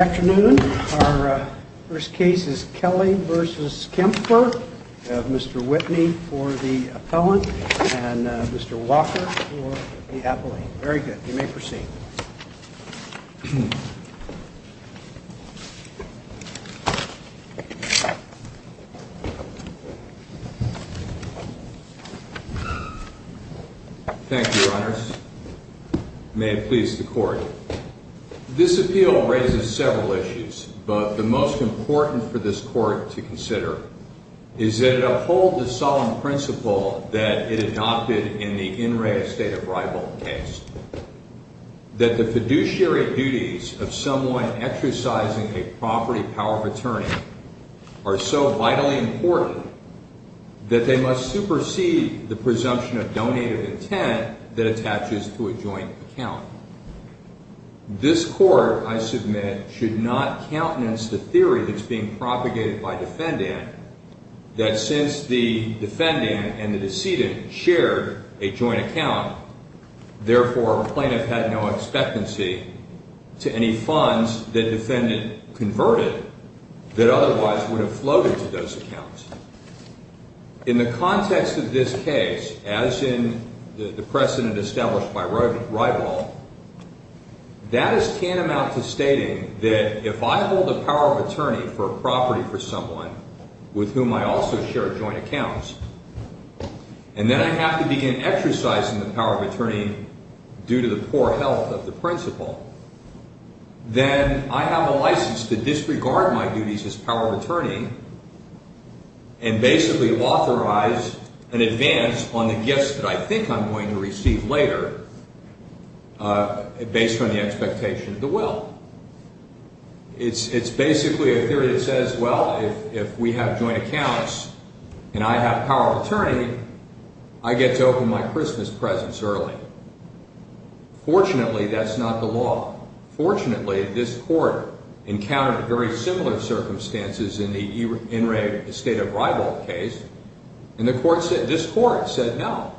Afternoon, our first case is Kelly v. Kempfer. We have Mr. Whitney for the appellant and Mr. Walker for the appellant. Very good, you may proceed. Thank you, your honors. May it please the court. This appeal raises several issues, but the most important for this court to consider is that it upholds the solemn principle that it adopted in the in re estate of rival case. That the fiduciary duties of someone exercising a property power of attorney are so vitally important that they must supersede the presumption of donated intent that attaches to a joint account. This court, I submit, should not countenance the theory that's being propagated by defendant that since the defendant and the decedent shared a joint account, therefore plaintiff had no expectancy to any funds that defendant converted that otherwise would have floated to those accounts. In the context of this case, as in the precedent established by rival, that is tantamount to stating that if I hold the power of attorney for a property for someone with whom I also share joint accounts, and then I have to begin exercising the power of attorney due to the poor health of the principal, then I have a license to disregard my duties as power of attorney and basically authorize an advance on the gifts that I think I'm going to receive later based on the expectation of the will. It's basically a theory that says, well, if we have joint accounts and I have power of attorney, I get to open my Christmas presents early. Fortunately, that's not the law. Fortunately, this court encountered very similar circumstances in the in re estate of rival case. This court said no.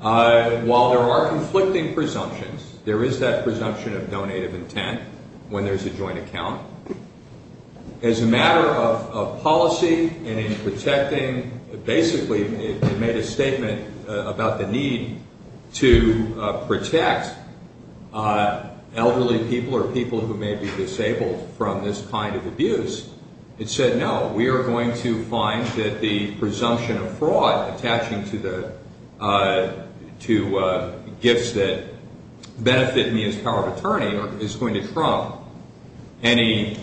While there are conflicting presumptions, there is that presumption of donated intent when there's a joint account. As a matter of policy and in protecting, basically it made a statement about the need to protect elderly people or people who may be disabled from this kind of abuse. It said, no, we are going to find that the presumption of fraud attaching to gifts that benefit me as power of attorney is going to trump any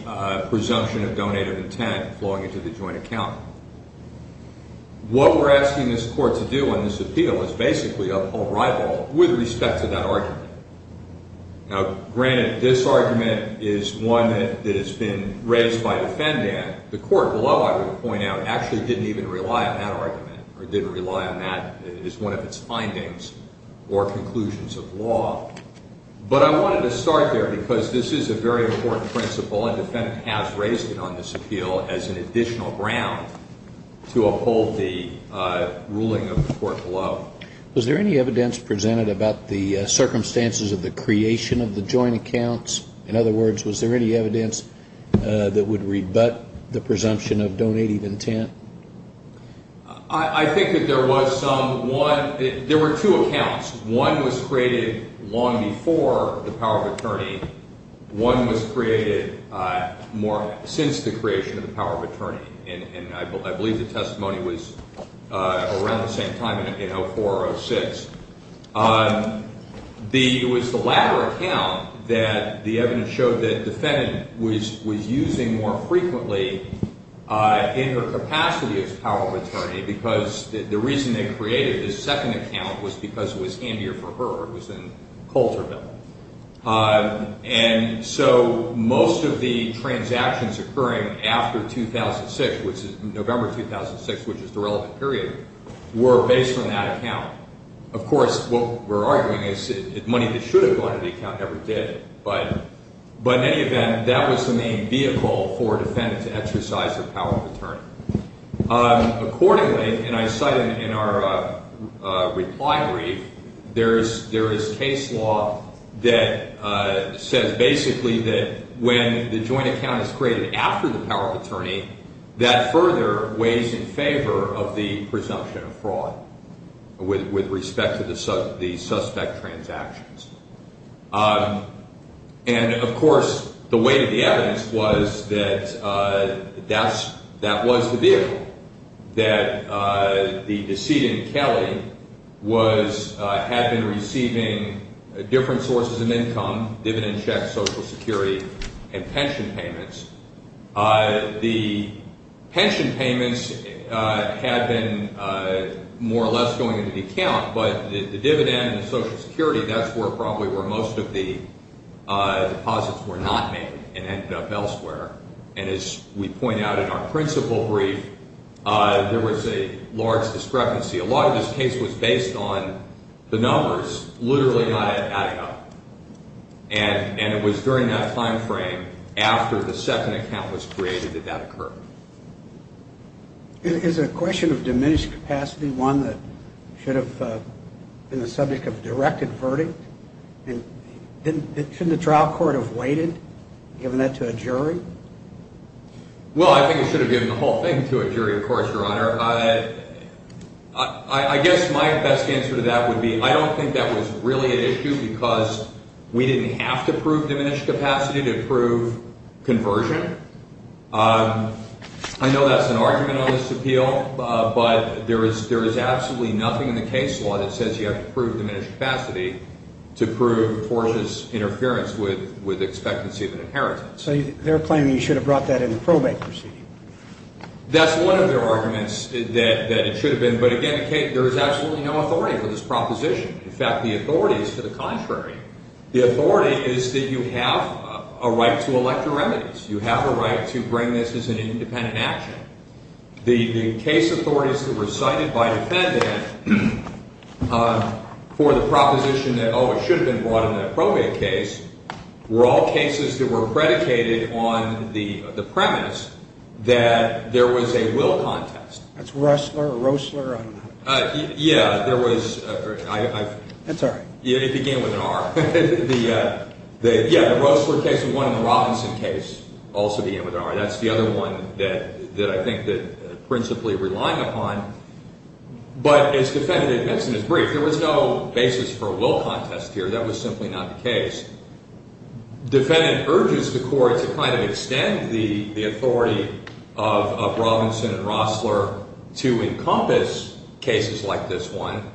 presumption of donated intent flowing into the joint account. What we're asking this court to do on this appeal is basically uphold rival with respect to that argument. Now, granted, this argument is one that has been raised by defendant. The court below, I would point out, actually didn't even rely on that argument or didn't rely on that as one of its findings or conclusions of law. But I wanted to start there because this is a very important principle and defendant has raised it on this appeal as an additional ground to uphold the ruling of the court below. Was there any evidence presented about the circumstances of the creation of the joint accounts? In other words, was there any evidence that would rebut the presumption of donated intent? I think that there was some. One, there were two accounts. One was created long before the power of attorney. One was created more since the creation of the power of attorney. And I believe the testimony was around the same time in 04 or 06. It was the latter account that the evidence showed that defendant was using more frequently in her capacity as power of attorney because the reason they created this second account was because it was handier for her. It was in Colterville. And so most of the transactions occurring after 2006, which is November 2006, which is the relevant period, were based on that account. Of course, what we're arguing is that money that should have gone to the account never did. But in any event, that was the main vehicle for a defendant to exercise her power of attorney. Accordingly, and I cite it in our reply brief, there is case law that says basically that when the joint account is created after the power of attorney, that further weighs in favor of the presumption of fraud with respect to the suspect transactions. And, of course, the weight of the evidence was that that was the vehicle, that the decedent, Kelly, had been receiving different sources of income, dividend checks, Social Security, and pension payments. The pension payments had been more or less going into the account, but the dividend and the Social Security, that's probably where most of the deposits were not made and ended up elsewhere. And as we point out in our principal brief, there was a large discrepancy. A lot of this case was based on the numbers, literally not adding up. And it was during that time frame, after the second account was created, that that occurred. Is the question of diminished capacity one that should have been the subject of a directed verdict? And shouldn't the trial court have waited, given that to a jury? Well, I think it should have given the whole thing to a jury, of course, Your Honor. I guess my best answer to that would be I don't think that was really an issue because we didn't have to prove diminished capacity to prove conversion. I know that's an argument on this appeal, but there is absolutely nothing in the case law that says you have to prove diminished capacity to prove forceless interference with expectancy of an inheritance. So they're claiming you should have brought that in the probate proceeding? That's one of their arguments, that it should have been. But again, there is absolutely no authority for this proposition. In fact, the authority is to the contrary. The authority is that you have a right to elect your remedies. You have a right to bring this as an independent action. The case authorities that were cited by defendant for the proposition that, oh, it should have been brought in that probate case, were all cases that were predicated on the premise that there was a will contest. That's Roessler or Roessler, I don't know. Yeah, there was. That's all right. It began with an R. Yeah, the Roessler case and the Robinson case also began with an R. That's the other one that I think that principally relying upon. But as defendant admits in his brief, there was no basis for a will contest here. That was simply not the case. Defendant urges the court to kind of extend the authority of Robinson and Roessler to encompass cases like this one.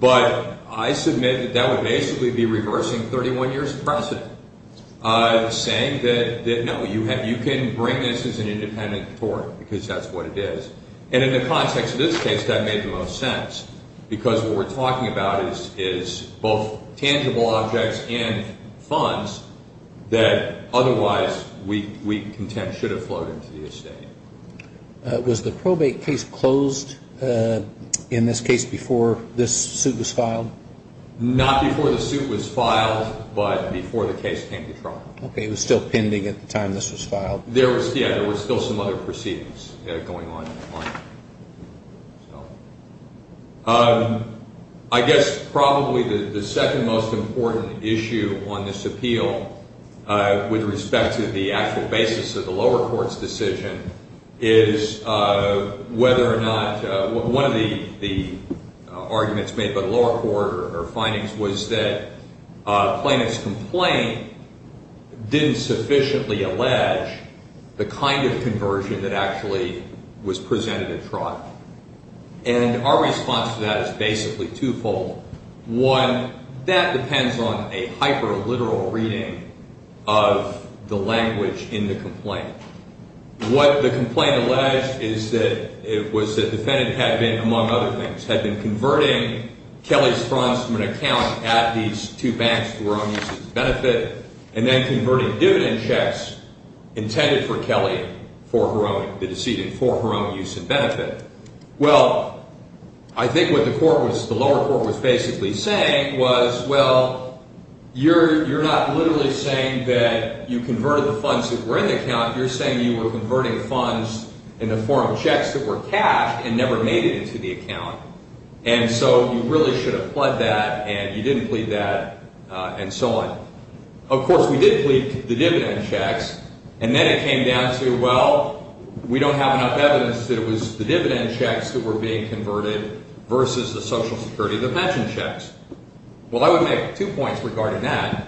But I submit that that would basically be reversing 31 years precedent, saying that, no, you can bring this as an independent court because that's what it is. And in the context of this case, that made the most sense because what we're talking about is both tangible objects and funds that otherwise we contend should have flowed into the estate. Was the probate case closed in this case before this suit was filed? Not before the suit was filed, but before the case came to trial. Okay, it was still pending at the time this was filed. Yeah, there were still some other proceedings going on. I guess probably the second most important issue on this appeal with respect to the actual basis of the lower court's decision is whether or not one of the arguments made by the lower court or findings was that Plaintiff's complaint didn't sufficiently allege the kind of conversion that actually was produced. It was presented at trial. And our response to that is basically twofold. One, that depends on a hyper-literal reading of the language in the complaint. What the complaint alleged is that it was the defendant had been, among other things, had been converting Kelly's funds from an account at these two banks for her own use and benefit and then converting dividend checks intended for Kelly for her own, the decedent, for her own use and benefit. Well, I think what the lower court was basically saying was, well, you're not literally saying that you converted the funds that were in the account. You're saying you were converting the funds in the form of checks that were cashed and never made it into the account. And so you really should have pled that and you didn't plead that and so on. Of course, we did plead the dividend checks. And then it came down to, well, we don't have enough evidence that it was the dividend checks that were being converted versus the Social Security, the pension checks. Well, I would make two points regarding that.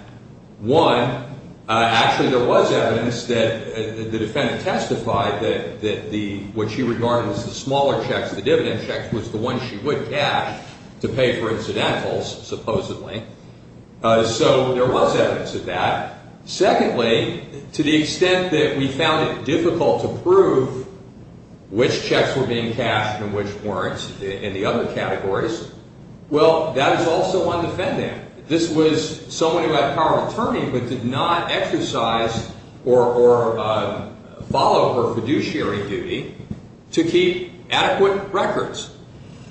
One, actually, there was evidence that the defendant testified that what she regarded as the smaller checks, the dividend checks, was the one she would cash to pay for incidentals, supposedly. So there was evidence of that. Secondly, to the extent that we found it difficult to prove which checks were being cashed and which weren't in the other categories, well, that is also on the defendant. This was someone who had power of attorney but did not exercise or follow her fiduciary duty to keep adequate records.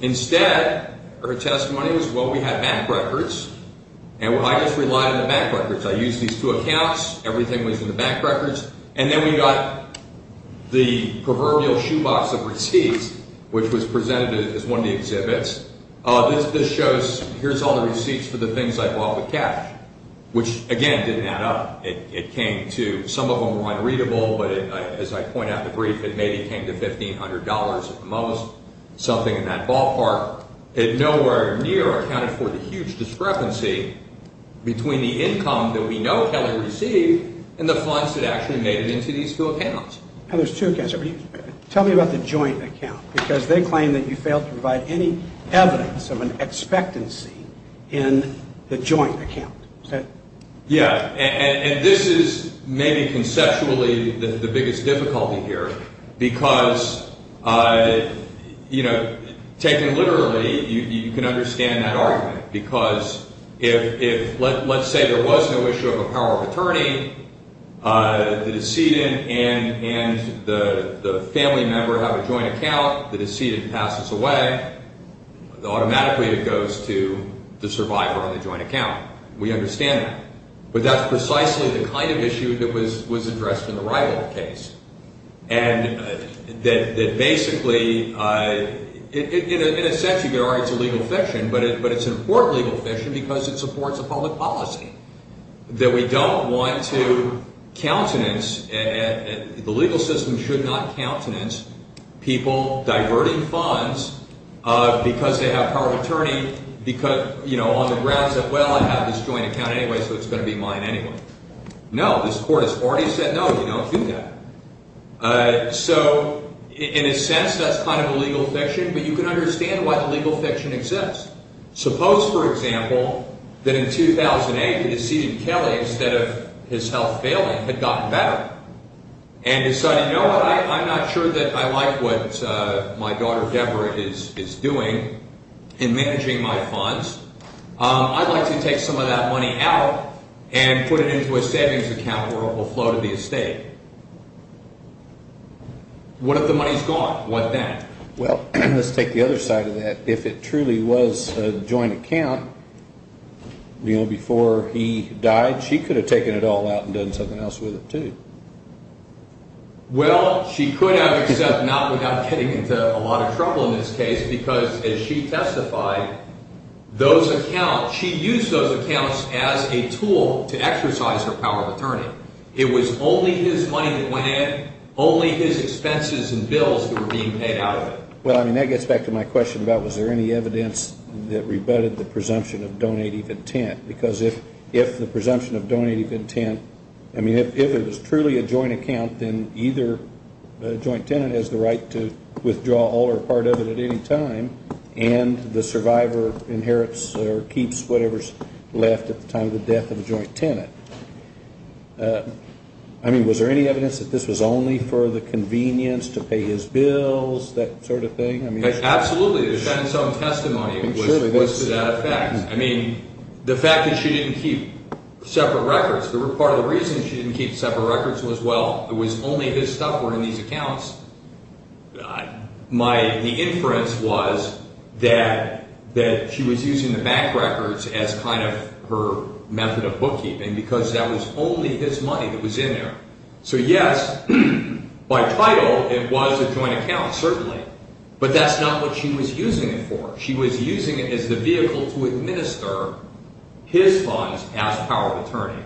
Instead, her testimony was, well, we had bank records and I just relied on the bank records. I used these two accounts. Everything was in the bank records. And then we got the proverbial shoebox of receipts, which was presented as one of the exhibits. This shows, here's all the receipts for the things I bought with cash, which, again, didn't add up. It came to, some of them were unreadable, but as I point out in the brief, it maybe came to $1,500 at the most. It was something in that ballpark. It nowhere near accounted for the huge discrepancy between the income that we know Kelly received and the funds that actually made it into these two accounts. Now, there's two accounts. Tell me about the joint account, because they claim that you failed to provide any evidence of an expectancy in the joint account. Yeah, and this is maybe conceptually the biggest difficulty here, because, you know, taken literally, you can understand that argument. Because if, let's say there was no issue of a power of attorney, the decedent and the family member have a joint account, the decedent passes away. Automatically, it goes to the survivor on the joint account. You can understand that, but that's precisely the kind of issue that was addressed in the Rival case. And that basically, in a sense, you can argue it's a legal fiction, but it's an important legal fiction because it supports a public policy. That we don't want to countenance, the legal system should not countenance people diverting funds because they have power of attorney. Because, you know, on the grounds that, well, I have this joint account anyway, so it's going to be mine anyway. No, this court has already said no, you don't do that. So, in a sense, that's kind of a legal fiction, but you can understand why the legal fiction exists. Suppose, for example, that in 2008, the decedent Kelly, instead of his health failing, had gotten better and decided, you know what, I'm not sure that I like what my daughter Deborah is doing in managing my funds, I'd like to take some of that money out and put it into a savings account where it will flow to the estate. What if the money's gone? What then? Well, let's take the other side of that. If it truly was a joint account, you know, before he died, she could have taken it all out and done something else with it too. Well, she could have except not without getting into a lot of trouble in this case because, as she testified, those accounts, she used those accounts as a tool to exercise her power of attorney. It was only his money that went in, only his expenses and bills that were being paid out of it. Well, I mean, that gets back to my question about was there any evidence that rebutted the presumption of donative intent? Because if the presumption of donative intent, I mean, if it was truly a joint account, then either joint tenant has the right to withdraw all or part of it at any time, and the survivor inherits or keeps whatever's left at the time of the death of the joint tenant. I mean, was there any evidence that this was only for the convenience to pay his bills, that sort of thing? Absolutely. There's been some testimony to that effect. I mean, the fact that she didn't keep separate records, part of the reason she didn't keep separate records was, well, it was only his stuff were in these accounts. The inference was that she was using the bank records as kind of her method of bookkeeping because that was only his money that was in there. So, yes, by title, it was a joint account, certainly, but that's not what she was using it for. She was using it as the vehicle to administer his funds as power of attorney,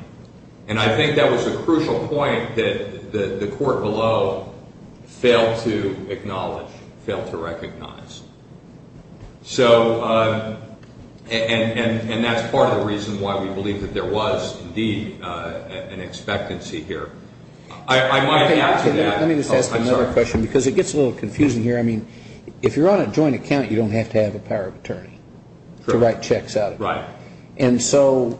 and I think that was a crucial point that the court below failed to acknowledge, failed to recognize. So, and that's part of the reason why we believe that there was, indeed, an expectancy here. I might add to that. Let me just ask another question because it gets a little confusing here. I mean, if you're on a joint account, you don't have to have a power of attorney to write checks out of it. Right. And so,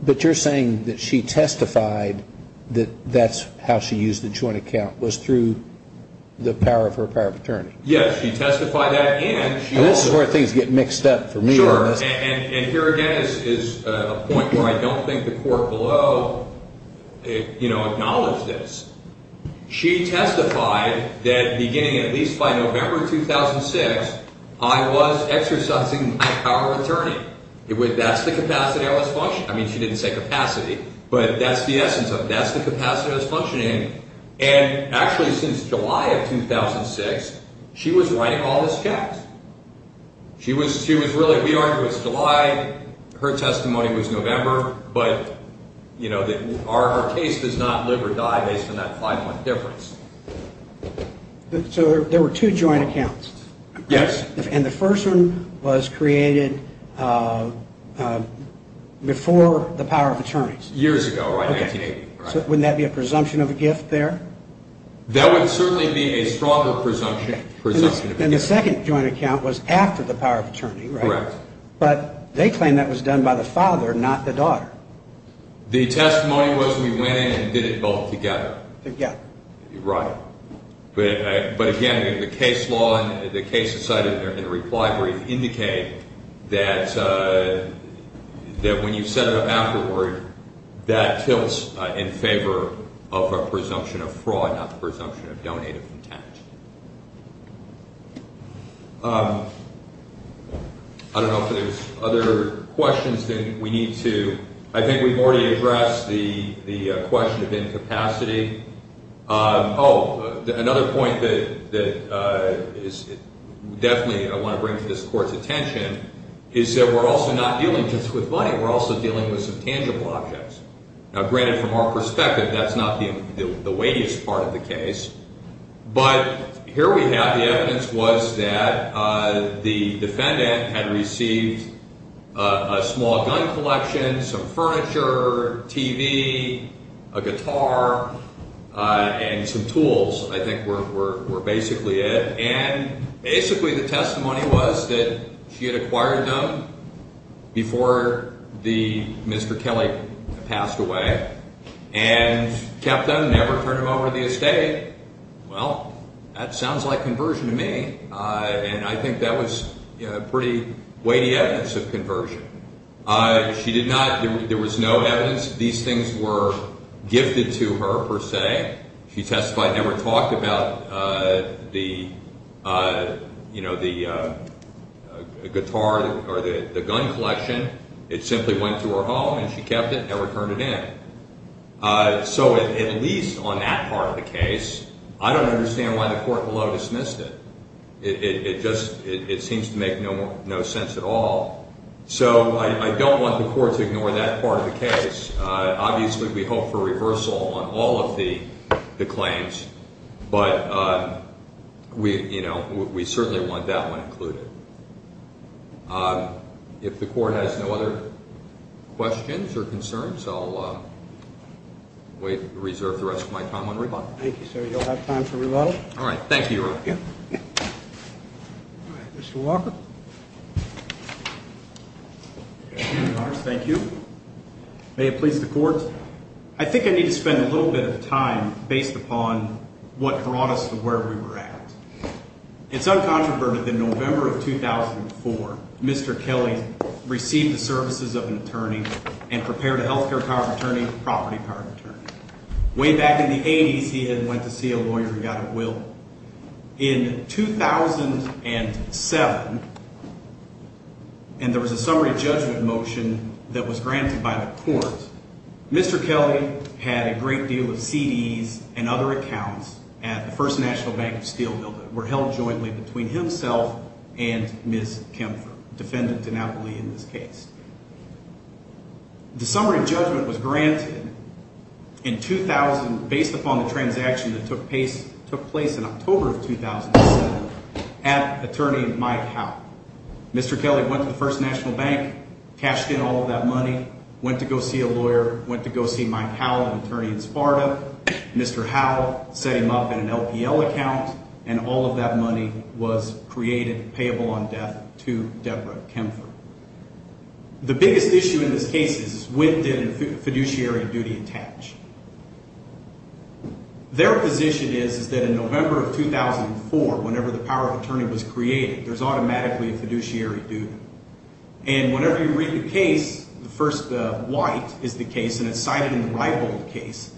but you're saying that she testified that that's how she used the joint account was through the power of her power of attorney. Yes, she testified that. And this is where things get mixed up for me. Sure, and here again is a point where I don't think the court below acknowledged this. She testified that beginning at least by November 2006, I was exercising my power of attorney. That's the capacity I was functioning. I mean, she didn't say capacity, but that's the essence of it. And actually, since July of 2006, she was writing all these checks. She was, she was really, we argued it was July. Her testimony was November, but, you know, our case does not live or die based on that five-month difference. So, there were two joint accounts. Yes. And the first one was created before the power of attorneys. Years ago, right, 1980. So, wouldn't that be a presumption of a gift there? That would certainly be a stronger presumption of a gift. And the second joint account was after the power of attorney, right? Correct. But they claim that was done by the father, not the daughter. The testimony was we went in and did it both together. But again, the case law and the case decided in reply brief indicate that when you set it up afterward, that tilts in favor of a presumption of fraud, not the presumption of donated content. I don't know if there's other questions that we need to, I think we've already addressed the question of incapacity. Oh, another point that is definitely I want to bring to this court's attention is that we're also not dealing just with money. We're also dealing with some tangible objects. Now, granted, from our perspective, that's not the weightiest part of the case. But here we have the evidence was that the defendant had received a small gun collection, some furniture, TV, a guitar, and some tools I think were basically it. And basically the testimony was that she had acquired them before the, Mr. Kelly passed away. And kept them, never turned them over to the estate. Well, that sounds like conversion to me. And I think that was pretty weighty evidence of conversion. She did not, there was no evidence these things were gifted to her per se. She testified, never talked about the, you know, the guitar or the gun collection. It simply went to her home and she kept it, never turned it in. So at least on that part of the case, I don't understand why the court below dismissed it. It just, it seems to make no sense at all. So I don't want the court to ignore that part of the case. Obviously we hope for reversal on all of the claims. But we, you know, we certainly want that one included. If the court has no other questions or concerns, I'll wait, reserve the rest of my time on rebuttal. Thank you, sir. You'll have time for rebuttal. All right. Thank you, Your Honor. All right. Mr. Walker. Thank you, Your Honor. Thank you. May it please the court. I think I need to spend a little bit of time based upon what brought us to where we were at. It's uncontroverted that in November of 2004, Mr. Kelly received the services of an attorney and prepared a health care card attorney, property card attorney. Way back in the 80s, he went to see a lawyer and got a will. In 2007, and there was a summary judgment motion that was granted by the court, Mr. Kelly had a great deal of CDs and other accounts at the First National Bank of Steel that were held jointly between himself and Ms. Kempfer, defendant to Napoli in this case. The summary judgment was granted in 2000 based upon the transaction that took place in October of 2007 at attorney Mike Howe. Mr. Kelly went to the First National Bank, cashed in all of that money, went to go see a lawyer, went to go see Mike Howe, an attorney in Sparta. Mr. Howe set him up in an LPL account, and all of that money was created payable on death to Deborah Kempfer. The biggest issue in this case is when did a fiduciary duty attach? Their position is that in November of 2004, whenever the power of attorney was created, there's automatically a fiduciary duty. And whenever you read the case, the first white is the case, and it's cited in the Riebold case,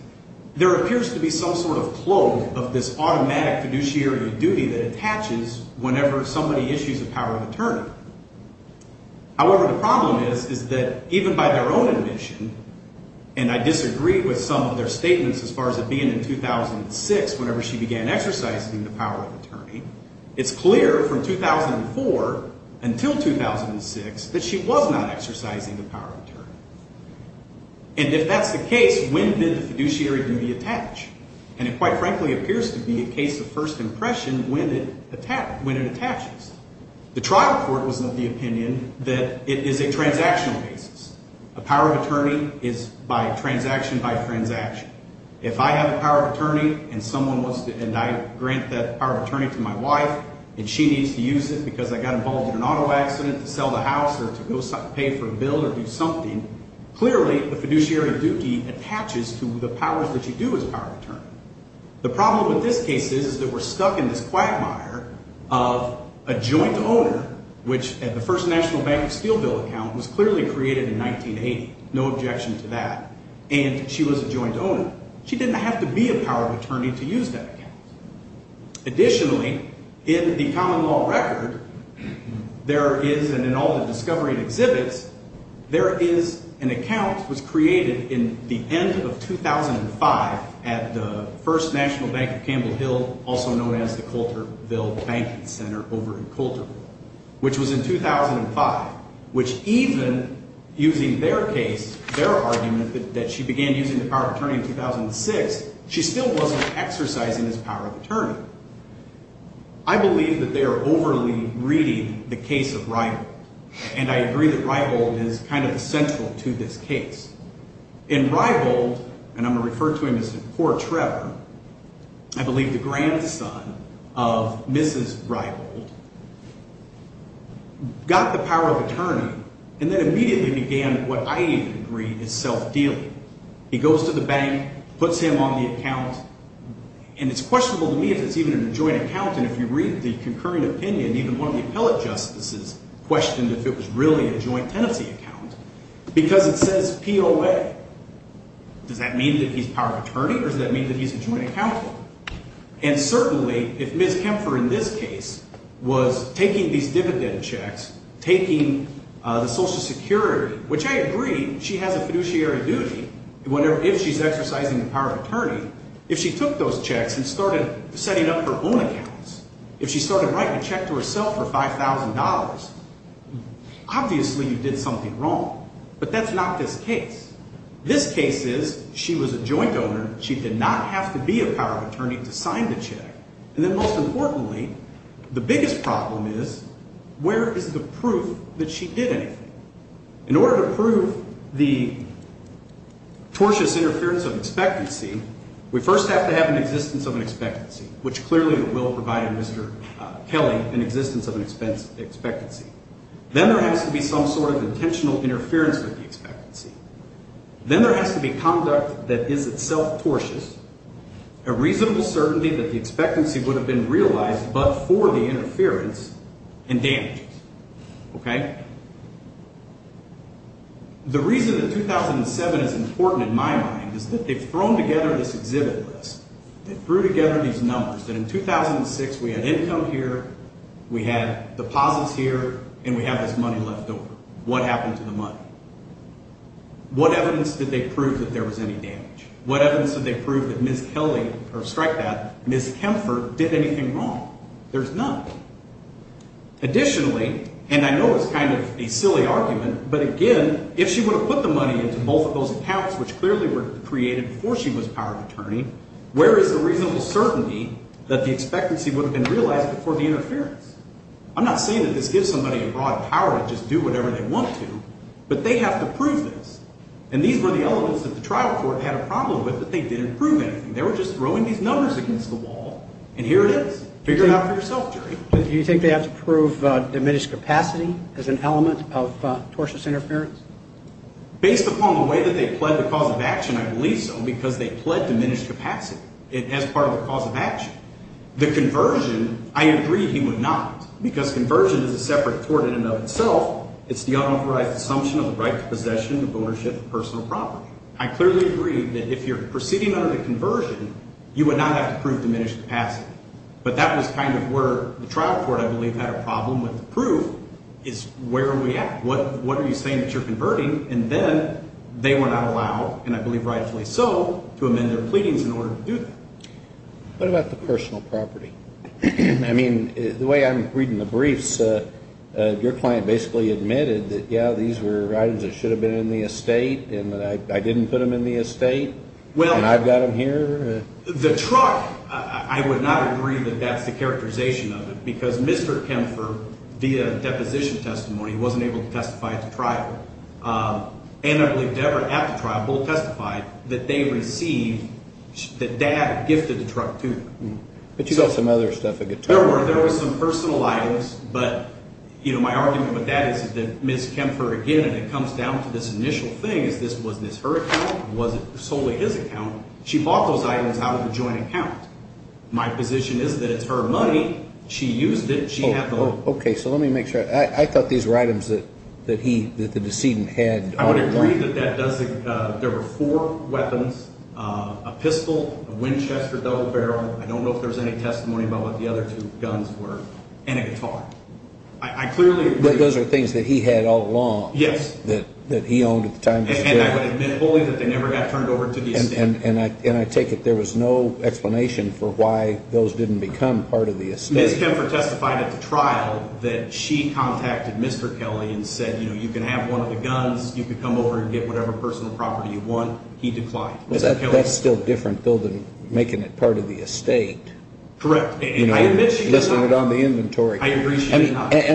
there appears to be some sort of clove of this automatic fiduciary duty that attaches whenever somebody issues a power of attorney. However, the problem is, is that even by their own admission, and I disagree with some of their statements as far as it being in 2006, whenever she began exercising the power of attorney, it's clear from 2004 until 2006 that she was not exercising the power of attorney. And if that's the case, when did the fiduciary duty attach? And it quite frankly appears to be a case of first impression when it attaches. The trial court was of the opinion that it is a transactional basis. A power of attorney is by transaction by transaction. If I have a power of attorney and I grant that power of attorney to my wife and she needs to use it because I got involved in an auto accident to sell the house or to pay for a bill or do something, clearly the fiduciary duty attaches to the powers that you do as a power of attorney. The problem with this case is that we're stuck in this quagmire of a joint owner, which at the First National Bank of Steel bill account was clearly created in 1980. No objection to that. And she was a joint owner. She didn't have to be a power of attorney to use that account. Additionally, in the common law record, there is, and in all the discovery and exhibits, there is an account that was created in the end of 2005 at the First National Bank of Campbell Hill, also known as the Coulterville Banking Center over in Coulterville, which was in 2005, which even using their case, their argument that she began using the power of attorney in 2006, she still wasn't exercising his power of attorney. I believe that they are overly reading the case of Riebold, and I agree that Riebold is kind of central to this case. And Riebold, and I'm going to refer to him as poor Trevor, I believe the grandson of Mrs. Riebold, got the power of attorney, and then immediately began what I even agree is self-dealing. He goes to the bank, puts him on the account, and it's questionable to me if it's even a joint account, and if you read the concurring opinion, even one of the appellate justices questioned if it was really a joint tenancy account, because it says POA. Does that mean that he's power of attorney, or does that mean that he's a joint accountant? And certainly, if Ms. Kempfer in this case was taking these dividend checks, taking the Social Security, which I agree she has a fiduciary duty if she's exercising the power of attorney. If she took those checks and started setting up her own accounts, if she started writing a check to herself for $5,000, obviously you did something wrong. But that's not this case. This case is she was a joint owner. She did not have to be a power of attorney to sign the check. And then most importantly, the biggest problem is, where is the proof that she did anything? In order to prove the tortuous interference of expectancy, we first have to have an existence of an expectancy, which clearly the will provided Mr. Kelly an existence of an expectancy. Then there has to be some sort of intentional interference with the expectancy. Then there has to be conduct that is itself tortuous, a reasonable certainty that the expectancy would have been realized but for the interference and damages. The reason that 2007 is important in my mind is that they've thrown together this exhibit list. They threw together these numbers, that in 2006 we had income here, we had deposits here, and we have this money left over. What happened to the money? What evidence did they prove that there was any damage? What evidence did they prove that Ms. Kelly, or strike that, Ms. Kempfer did anything wrong? There's none. Additionally, and I know it's kind of a silly argument, but again, if she would have put the money into both of those accounts, which clearly were created before she was a power of attorney, where is the reasonable certainty that the expectancy would have been realized before the interference? I'm not saying that this gives somebody a broad power to just do whatever they want to, but they have to prove this. And these were the elements that the trial court had a problem with, but they didn't prove anything. They were just throwing these numbers against the wall, and here it is. Figure it out for yourself, Jerry. Do you think they have to prove diminished capacity as an element of tortious interference? Based upon the way that they pled the cause of action, I believe so, because they pled diminished capacity as part of the cause of action. The conversion, I agree he would not, because conversion is a separate court in and of itself. It's the unauthorized assumption of the right to possession, ownership, and personal property. I clearly agree that if you're proceeding under the conversion, you would not have to prove diminished capacity. But that was kind of where the trial court, I believe, had a problem with the proof is where are we at? What are you saying that you're converting? And then they were not allowed, and I believe rightfully so, to amend their pleadings in order to do that. What about the personal property? I mean, the way I'm reading the briefs, your client basically admitted that, yeah, these were items that should have been in the estate, and that I didn't put them in the estate, and I've got them here. The truck, I would not agree that that's the characterization of it, because Mr. Kempfer, via deposition testimony, wasn't able to testify at the trial. And I believe Debra, at the trial, both testified that they received, that dad gifted the truck to them. But you got some other stuff at the trial. There were some personal items, but my argument with that is that Ms. Kempfer again, and it comes down to this initial thing, was this her account? Was it solely his account? She bought those items out of a joint account. My position is that it's her money, she used it, she had the money. Okay, so let me make sure. I thought these were items that the decedent had. I would agree that there were four weapons, a pistol, a Winchester double barrel, I don't know if there's any testimony about what the other two guns were, and a guitar. I clearly agree. Those are things that he had all along. Yes. That he owned at the time. And I would admit wholly that they never got turned over to the estate. And I take it there was no explanation for why those didn't become part of the estate. Ms. Kempfer testified at the trial that she contacted Mr. Kelly and said, you know, you can have one of the guns, you can come over and get whatever personal property you want. He declined. That's still different though, than making it part of the estate. And I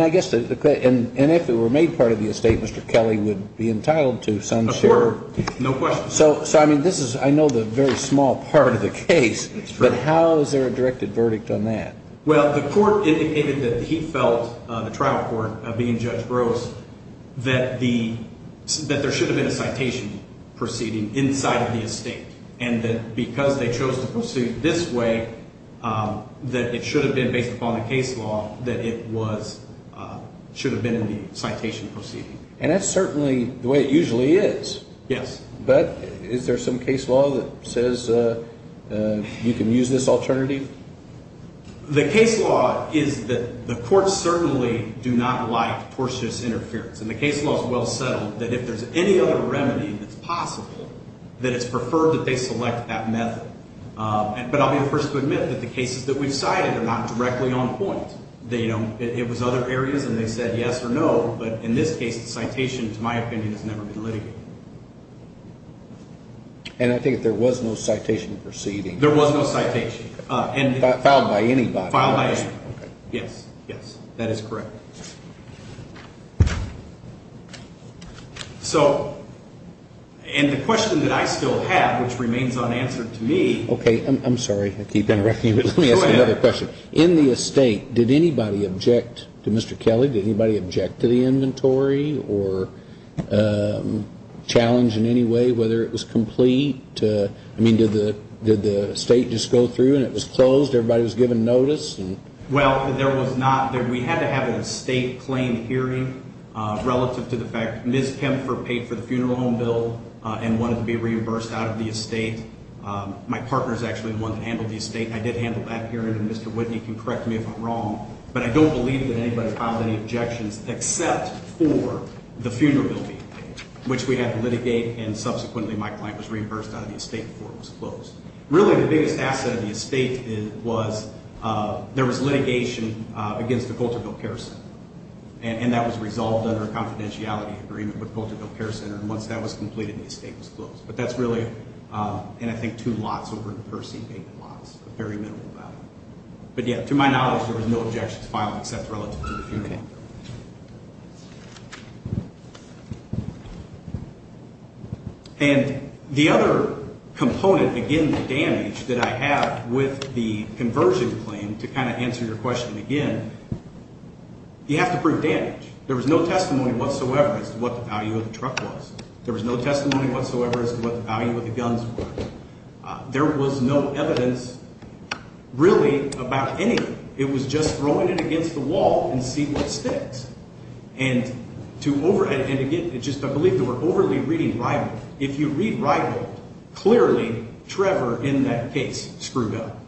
guess, and if it were made part of the estate, Mr. Kelly would be entitled to some share. Of course. No question. So, I mean, this is, I know the very small part of the case, but how is there a directed verdict on that? Well, the court indicated that he felt, the trial court, being Judge Gross, that the, that there should have been a citation proceeding inside of the estate. And that because they chose to proceed this way, that it should have been based upon the case law, that it was, should have been in the citation proceeding. And that's certainly the way it usually is. Yes. But is there some case law that says you can use this alternative? The case law is that the courts certainly do not like tortious interference. And the case law is well settled that if there's any other remedy that's possible, that it's preferred that they select that method. But I'll be the first to admit that the cases that we've cited are not directly on point. They don't, it was other areas and they said yes or no, but in this case, the citation, to my opinion, has never been litigated. And I think there was no citation proceeding. There was no citation. Filed by anybody. Filed by anybody. Yes. Yes. That is correct. So, and the question that I still have, which remains unanswered to me. Okay. I'm sorry, I keep interrupting you, but let me ask you another question. Go ahead. In the estate, did anybody object to Mr. Kelly? Did anybody object to the inventory or challenge in any way whether it was complete? I mean, did the estate just go through and it was closed? Everybody was given notice? Well, there was not, we had to have an estate claim hearing relative to the fact Ms. Kempfer paid for the funeral home bill and wanted to be reimbursed out of the estate. My partner is actually the one that handled the estate. I did handle that hearing and Mr. Whitney can correct me if I'm wrong, but I don't believe that anybody filed any objections except for the funeral building, which we had to litigate and subsequently my client was reimbursed out of the estate before it was closed. Really, the biggest asset of the estate was there was litigation against the Colterville Care Center and that was resolved under a confidentiality agreement with the Colterville Care Center and once that was completed the estate was closed. But that's really, and I think two lots over in Percy paid the lots, a very minimal amount. But yeah, to my knowledge there was no objections filed except relative to the funeral home bill. And the other component, again, the damage that I have with the conversion claim to kind of answer your question again, you have to prove damage. There was no testimony whatsoever as to what the value of the guns were. There was no evidence really about anything. It was just throwing it against the wall and see what sticks. And to over, and again, it's just I believe there were overly reading rival. If you read rival, clearly Trevor in that case screwed up.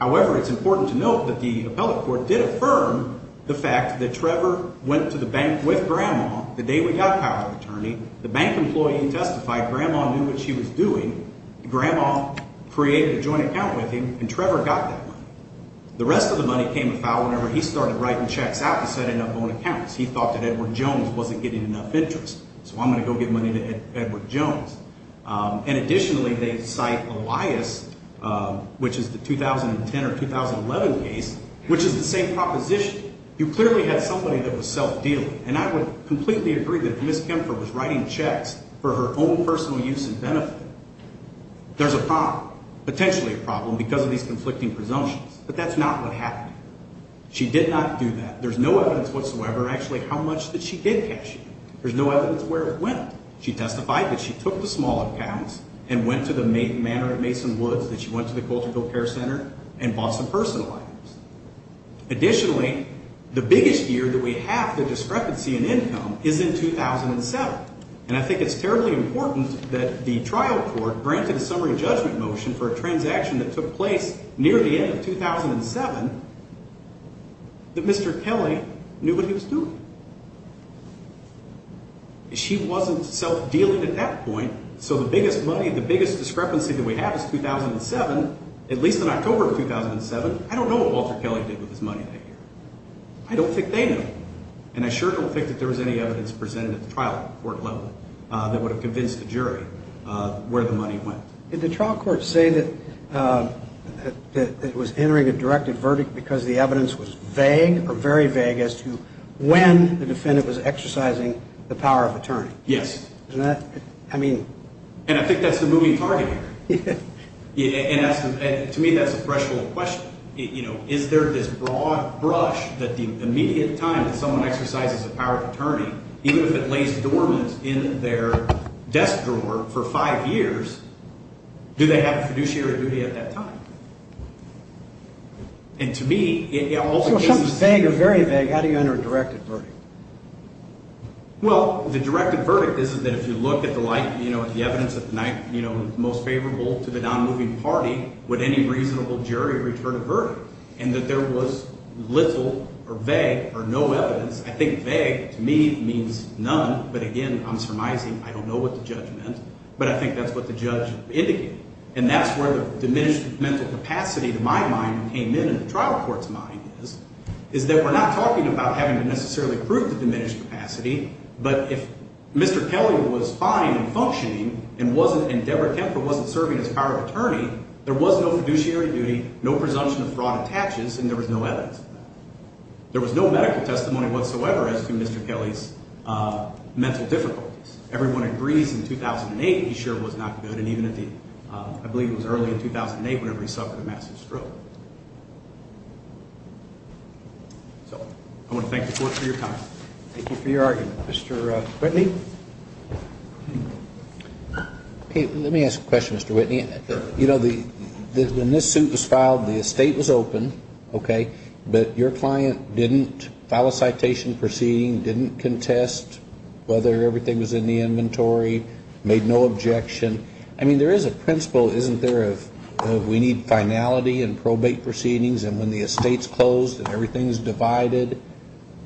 However, it's important to note that the appellate court did affirm the fact that Trevor went to the bank with Grandma the day we got a power of attorney. The bank employee testified Grandma knew what she was doing. Grandma created a joint account with him and Trevor got that money. The rest of the money came to file whenever he started writing checks out to set up his own accounts. He thought that Edward Jones wasn't getting enough interest. So I'm going to go get money to Edward Jones. And additionally, they cite Elias, which is the 2010 or 2011 case, which is the same proposition. You clearly had somebody that was self-dealing. And I would completely agree with that. If she was writing checks for her own personal use and benefit, there's a problem, potentially a problem because of these conflicting presumptions. But that's not what happened. She did not do that. There's no evidence whatsoever actually how much that she did cash in. There's no evidence where it went. She testified that she took the small accounts and went to the manor at Mason Woods that she went to the Colterville Care Center and bought some personal items. And it's terribly important that the trial court granted a summary judgment motion for a transaction that took place near the end of 2007 that Mr. Kelly knew what he was doing. She wasn't self-dealing at that point. So the biggest money, the biggest discrepancy that we have is 2007, at least in October of 2007. I don't know what Walter Kelly did with his money that year. I don't think they know. And I sure don't think they would have convinced the jury where the money went. Did the trial court say that it was entering a directed verdict because the evidence was vague or very vague as to when the defendant was exercising the power of attorney? Yes. And I think that's the moving target here. To me, that's a threshold question. Is there this broad brush that the immediate time that someone exercises the power of attorney, even if it lays dormant in their desk drawer for five years, do they have a fiduciary duty at that time? And to me, it also gives me... So if something is vague or very vague, how do you enter a directed verdict? Well, the directed verdict is that if you look at the light, you know, at the evidence that's most favorable to the non-moving party, would any reasonable jury return a verdict? And that there was little or vague or no evidence. I don't know what the judge meant, but I think that's what the judge indicated. And that's where the diminished mental capacity, to my mind, came in in the trial court's mind is that we're not talking about having to necessarily prove the diminished capacity, but if Mr. Kelly was fine and functioning and Deborah Kemper wasn't serving as power of attorney, there was no fiduciary duty, no presumption of fraud attaches, and there was no evidence of that. There was no medical testimony that he was not good. And I believe it was early in 2008 when he suffered a massive stroke. So I want to thank the court for your time. Thank you for your argument. Mr. Whitney? Let me ask a question, Mr. Whitney. You know, when this suit was filed, the estate was open, okay, but your client didn't file a citation proceeding, didn't contest whether everything was in the inventory, made no objection. I mean, there is a principle, isn't there, of we need finality in probate proceedings, and when the estate's closed and everything's divided,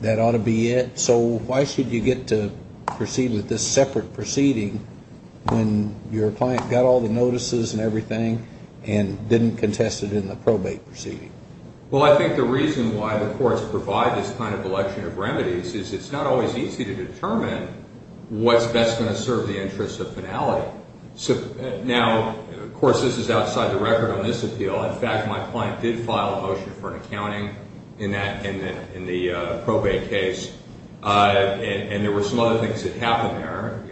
that ought to be it. So why should you get to proceed with this separate proceeding when your client got all the notices and everything and didn't contest it in the probate proceeding? Well, I think the reason why the courts provide this kind of election of remedies is in the interest of finality. Now, of course, this is outside the record on this appeal. In fact, my client did file a motion for an accounting in the probate case, and there were some other things that happened there.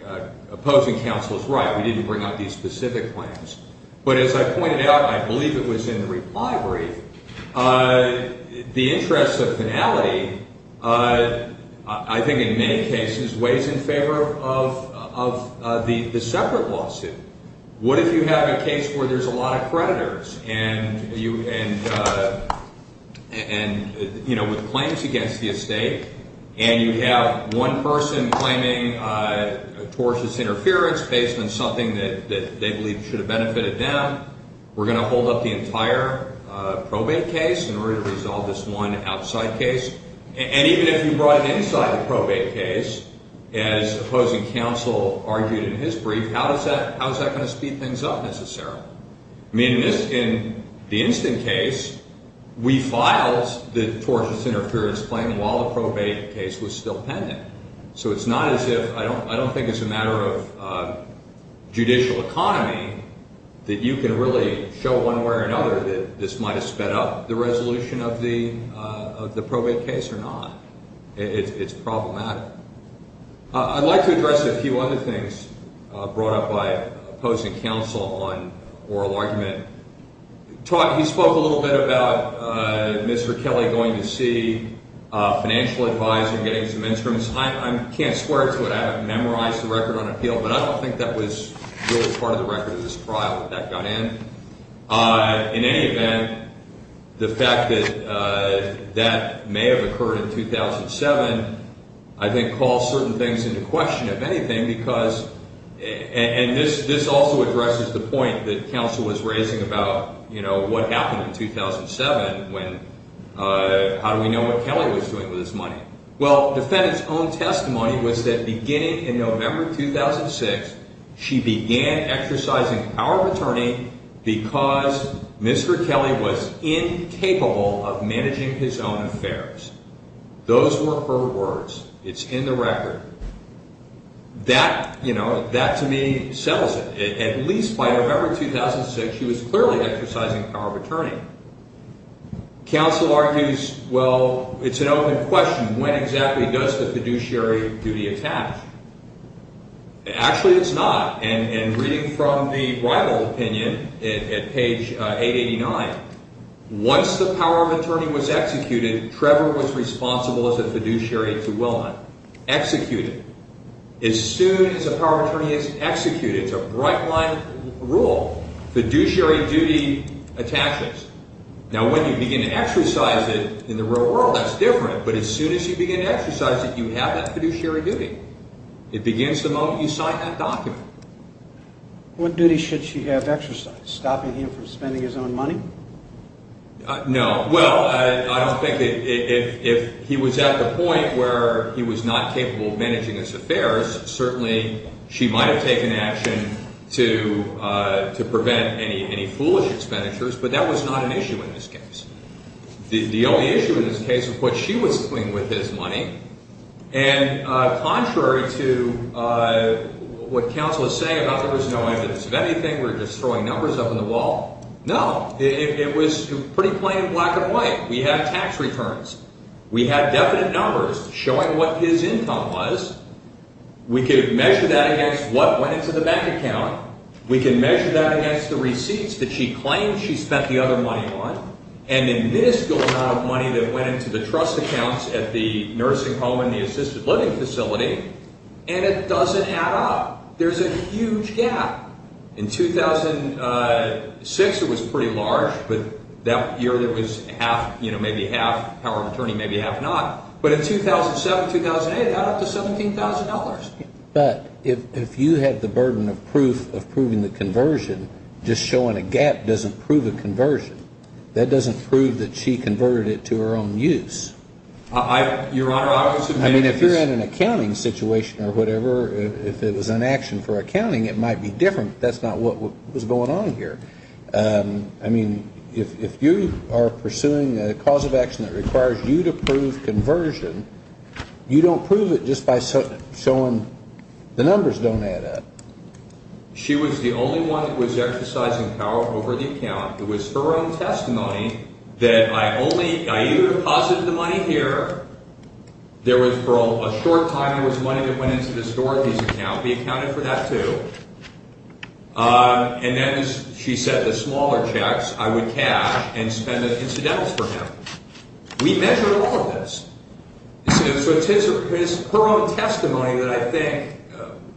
Opposing counsel is right. We didn't bring out these specific claims, but as I pointed out, I believe it was in the reply brief, the interest of finality, the separate lawsuit. What if you have a case where there's a lot of creditors and, you know, with claims against the estate, and you have one person claiming tortious interference based on something that they believe should have benefited them? We're going to hold up the entire probate case in order to resolve this one outside case? And even if you brought it inside the probate case, as opposing counsel argued in his brief, how is that going to speed things up necessarily? I mean, in the instant case, we filed the tortious interference claim while the probate case was still pending. So it's not as if, I don't think it's a matter of judicial economy that you can really show one way or another that this might have made this problem matter. I'd like to address a few other things brought up by opposing counsel on oral argument. He spoke a little bit about Mr. Kelly going to see a financial advisor and getting some instruments. I can't swear to it, I haven't memorized the record on appeal, but I don't think that was really part of the record of this trial that that got in. In any event, the fact that that may have occurred in 2007, I think calls certain things into question, if anything, because, and this also addresses the point that counsel was raising about, you know, what happened in 2007 when, how do we know what Kelly was doing with his money? Well, the defendant's own testimony was that beginning in November 2006, she began exercising power of attorney because Mr. Kelly was incapable of managing his own affairs. Those were her words. It's in the record. That, you know, that to me settles it. At least by November 2006, she was clearly exercising power of attorney. Counsel argues, well, it's an open question. When exactly does the fiduciary duty attach? Actually, it's not. And reading from the rival opinion at page 889, once the power of attorney was executed, Trevor was responsible as a fiduciary to Wilma. Executed. As soon as a power of attorney is executed, it's a right-line rule, fiduciary duty attaches. Now, when you begin to exercise it in the real world, that's different. But as soon as you begin to exercise it, you have that fiduciary duty. It begins the moment you sign that document. What duty should she have exercised? Stopping him from spending his own money? No. Well, I don't think that if he was at the point where he was not capable of managing his affairs, certainly she might have taken action to prevent any foolish expenditures. But that was not an issue in this case. The only issue in this case was what she was doing with his money. And contrary to what counsel was saying about there was no evidence of anything, we were just throwing numbers up in the wall, no. It was pretty plain black and white. We had tax returns. We had definite numbers showing what his income was. We could measure that against what went into the bank account. We could measure that against the receipts that she claimed she spent the other money on. And then this amount of money that went into the trust accounts at the nursing home and the assisted living facility, and it doesn't add up. There's a huge gap. In 2006 it was pretty large, but that year there was maybe half power of attorney, maybe half not. But in 2007, 2008, it got up to $17,000. But if you had the burden of proof of proving the conversion, just showing a gap doesn't prove a conversion. That doesn't prove that she converted it to her own use. I mean, if you're in an accounting situation or whatever, if it was an action for accounting, it might be different. That's not what was going on here. I mean, if you are pursuing a cause of action that requires you to prove conversion, you don't prove it just by showing the numbers don't add up. She was the only one that was exercising power over the account. It was her own testimony that I think,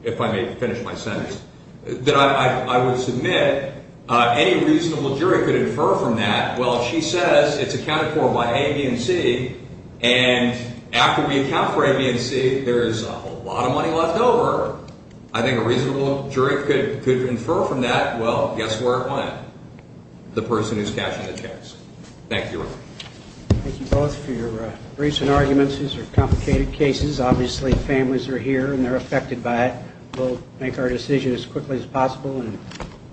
if I may finish my sentence, that I would submit any reasonable jury could infer from that, well, if she says it's accounted for by A, and C, and after we account for A, B, and C, there's a whole lot of money left over, she's going to have to pay for it. I think a reasonable jury could infer from that, well, it went? The person who's cashing the checks. Thank you, Your Honor. Thank you both for your briefs and arguments. These are complicated cases. Obviously, families are here and they're affected by it. We'll make our decision as quickly as possible and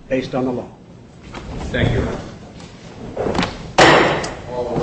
based on the law. Thank you, Your Honor.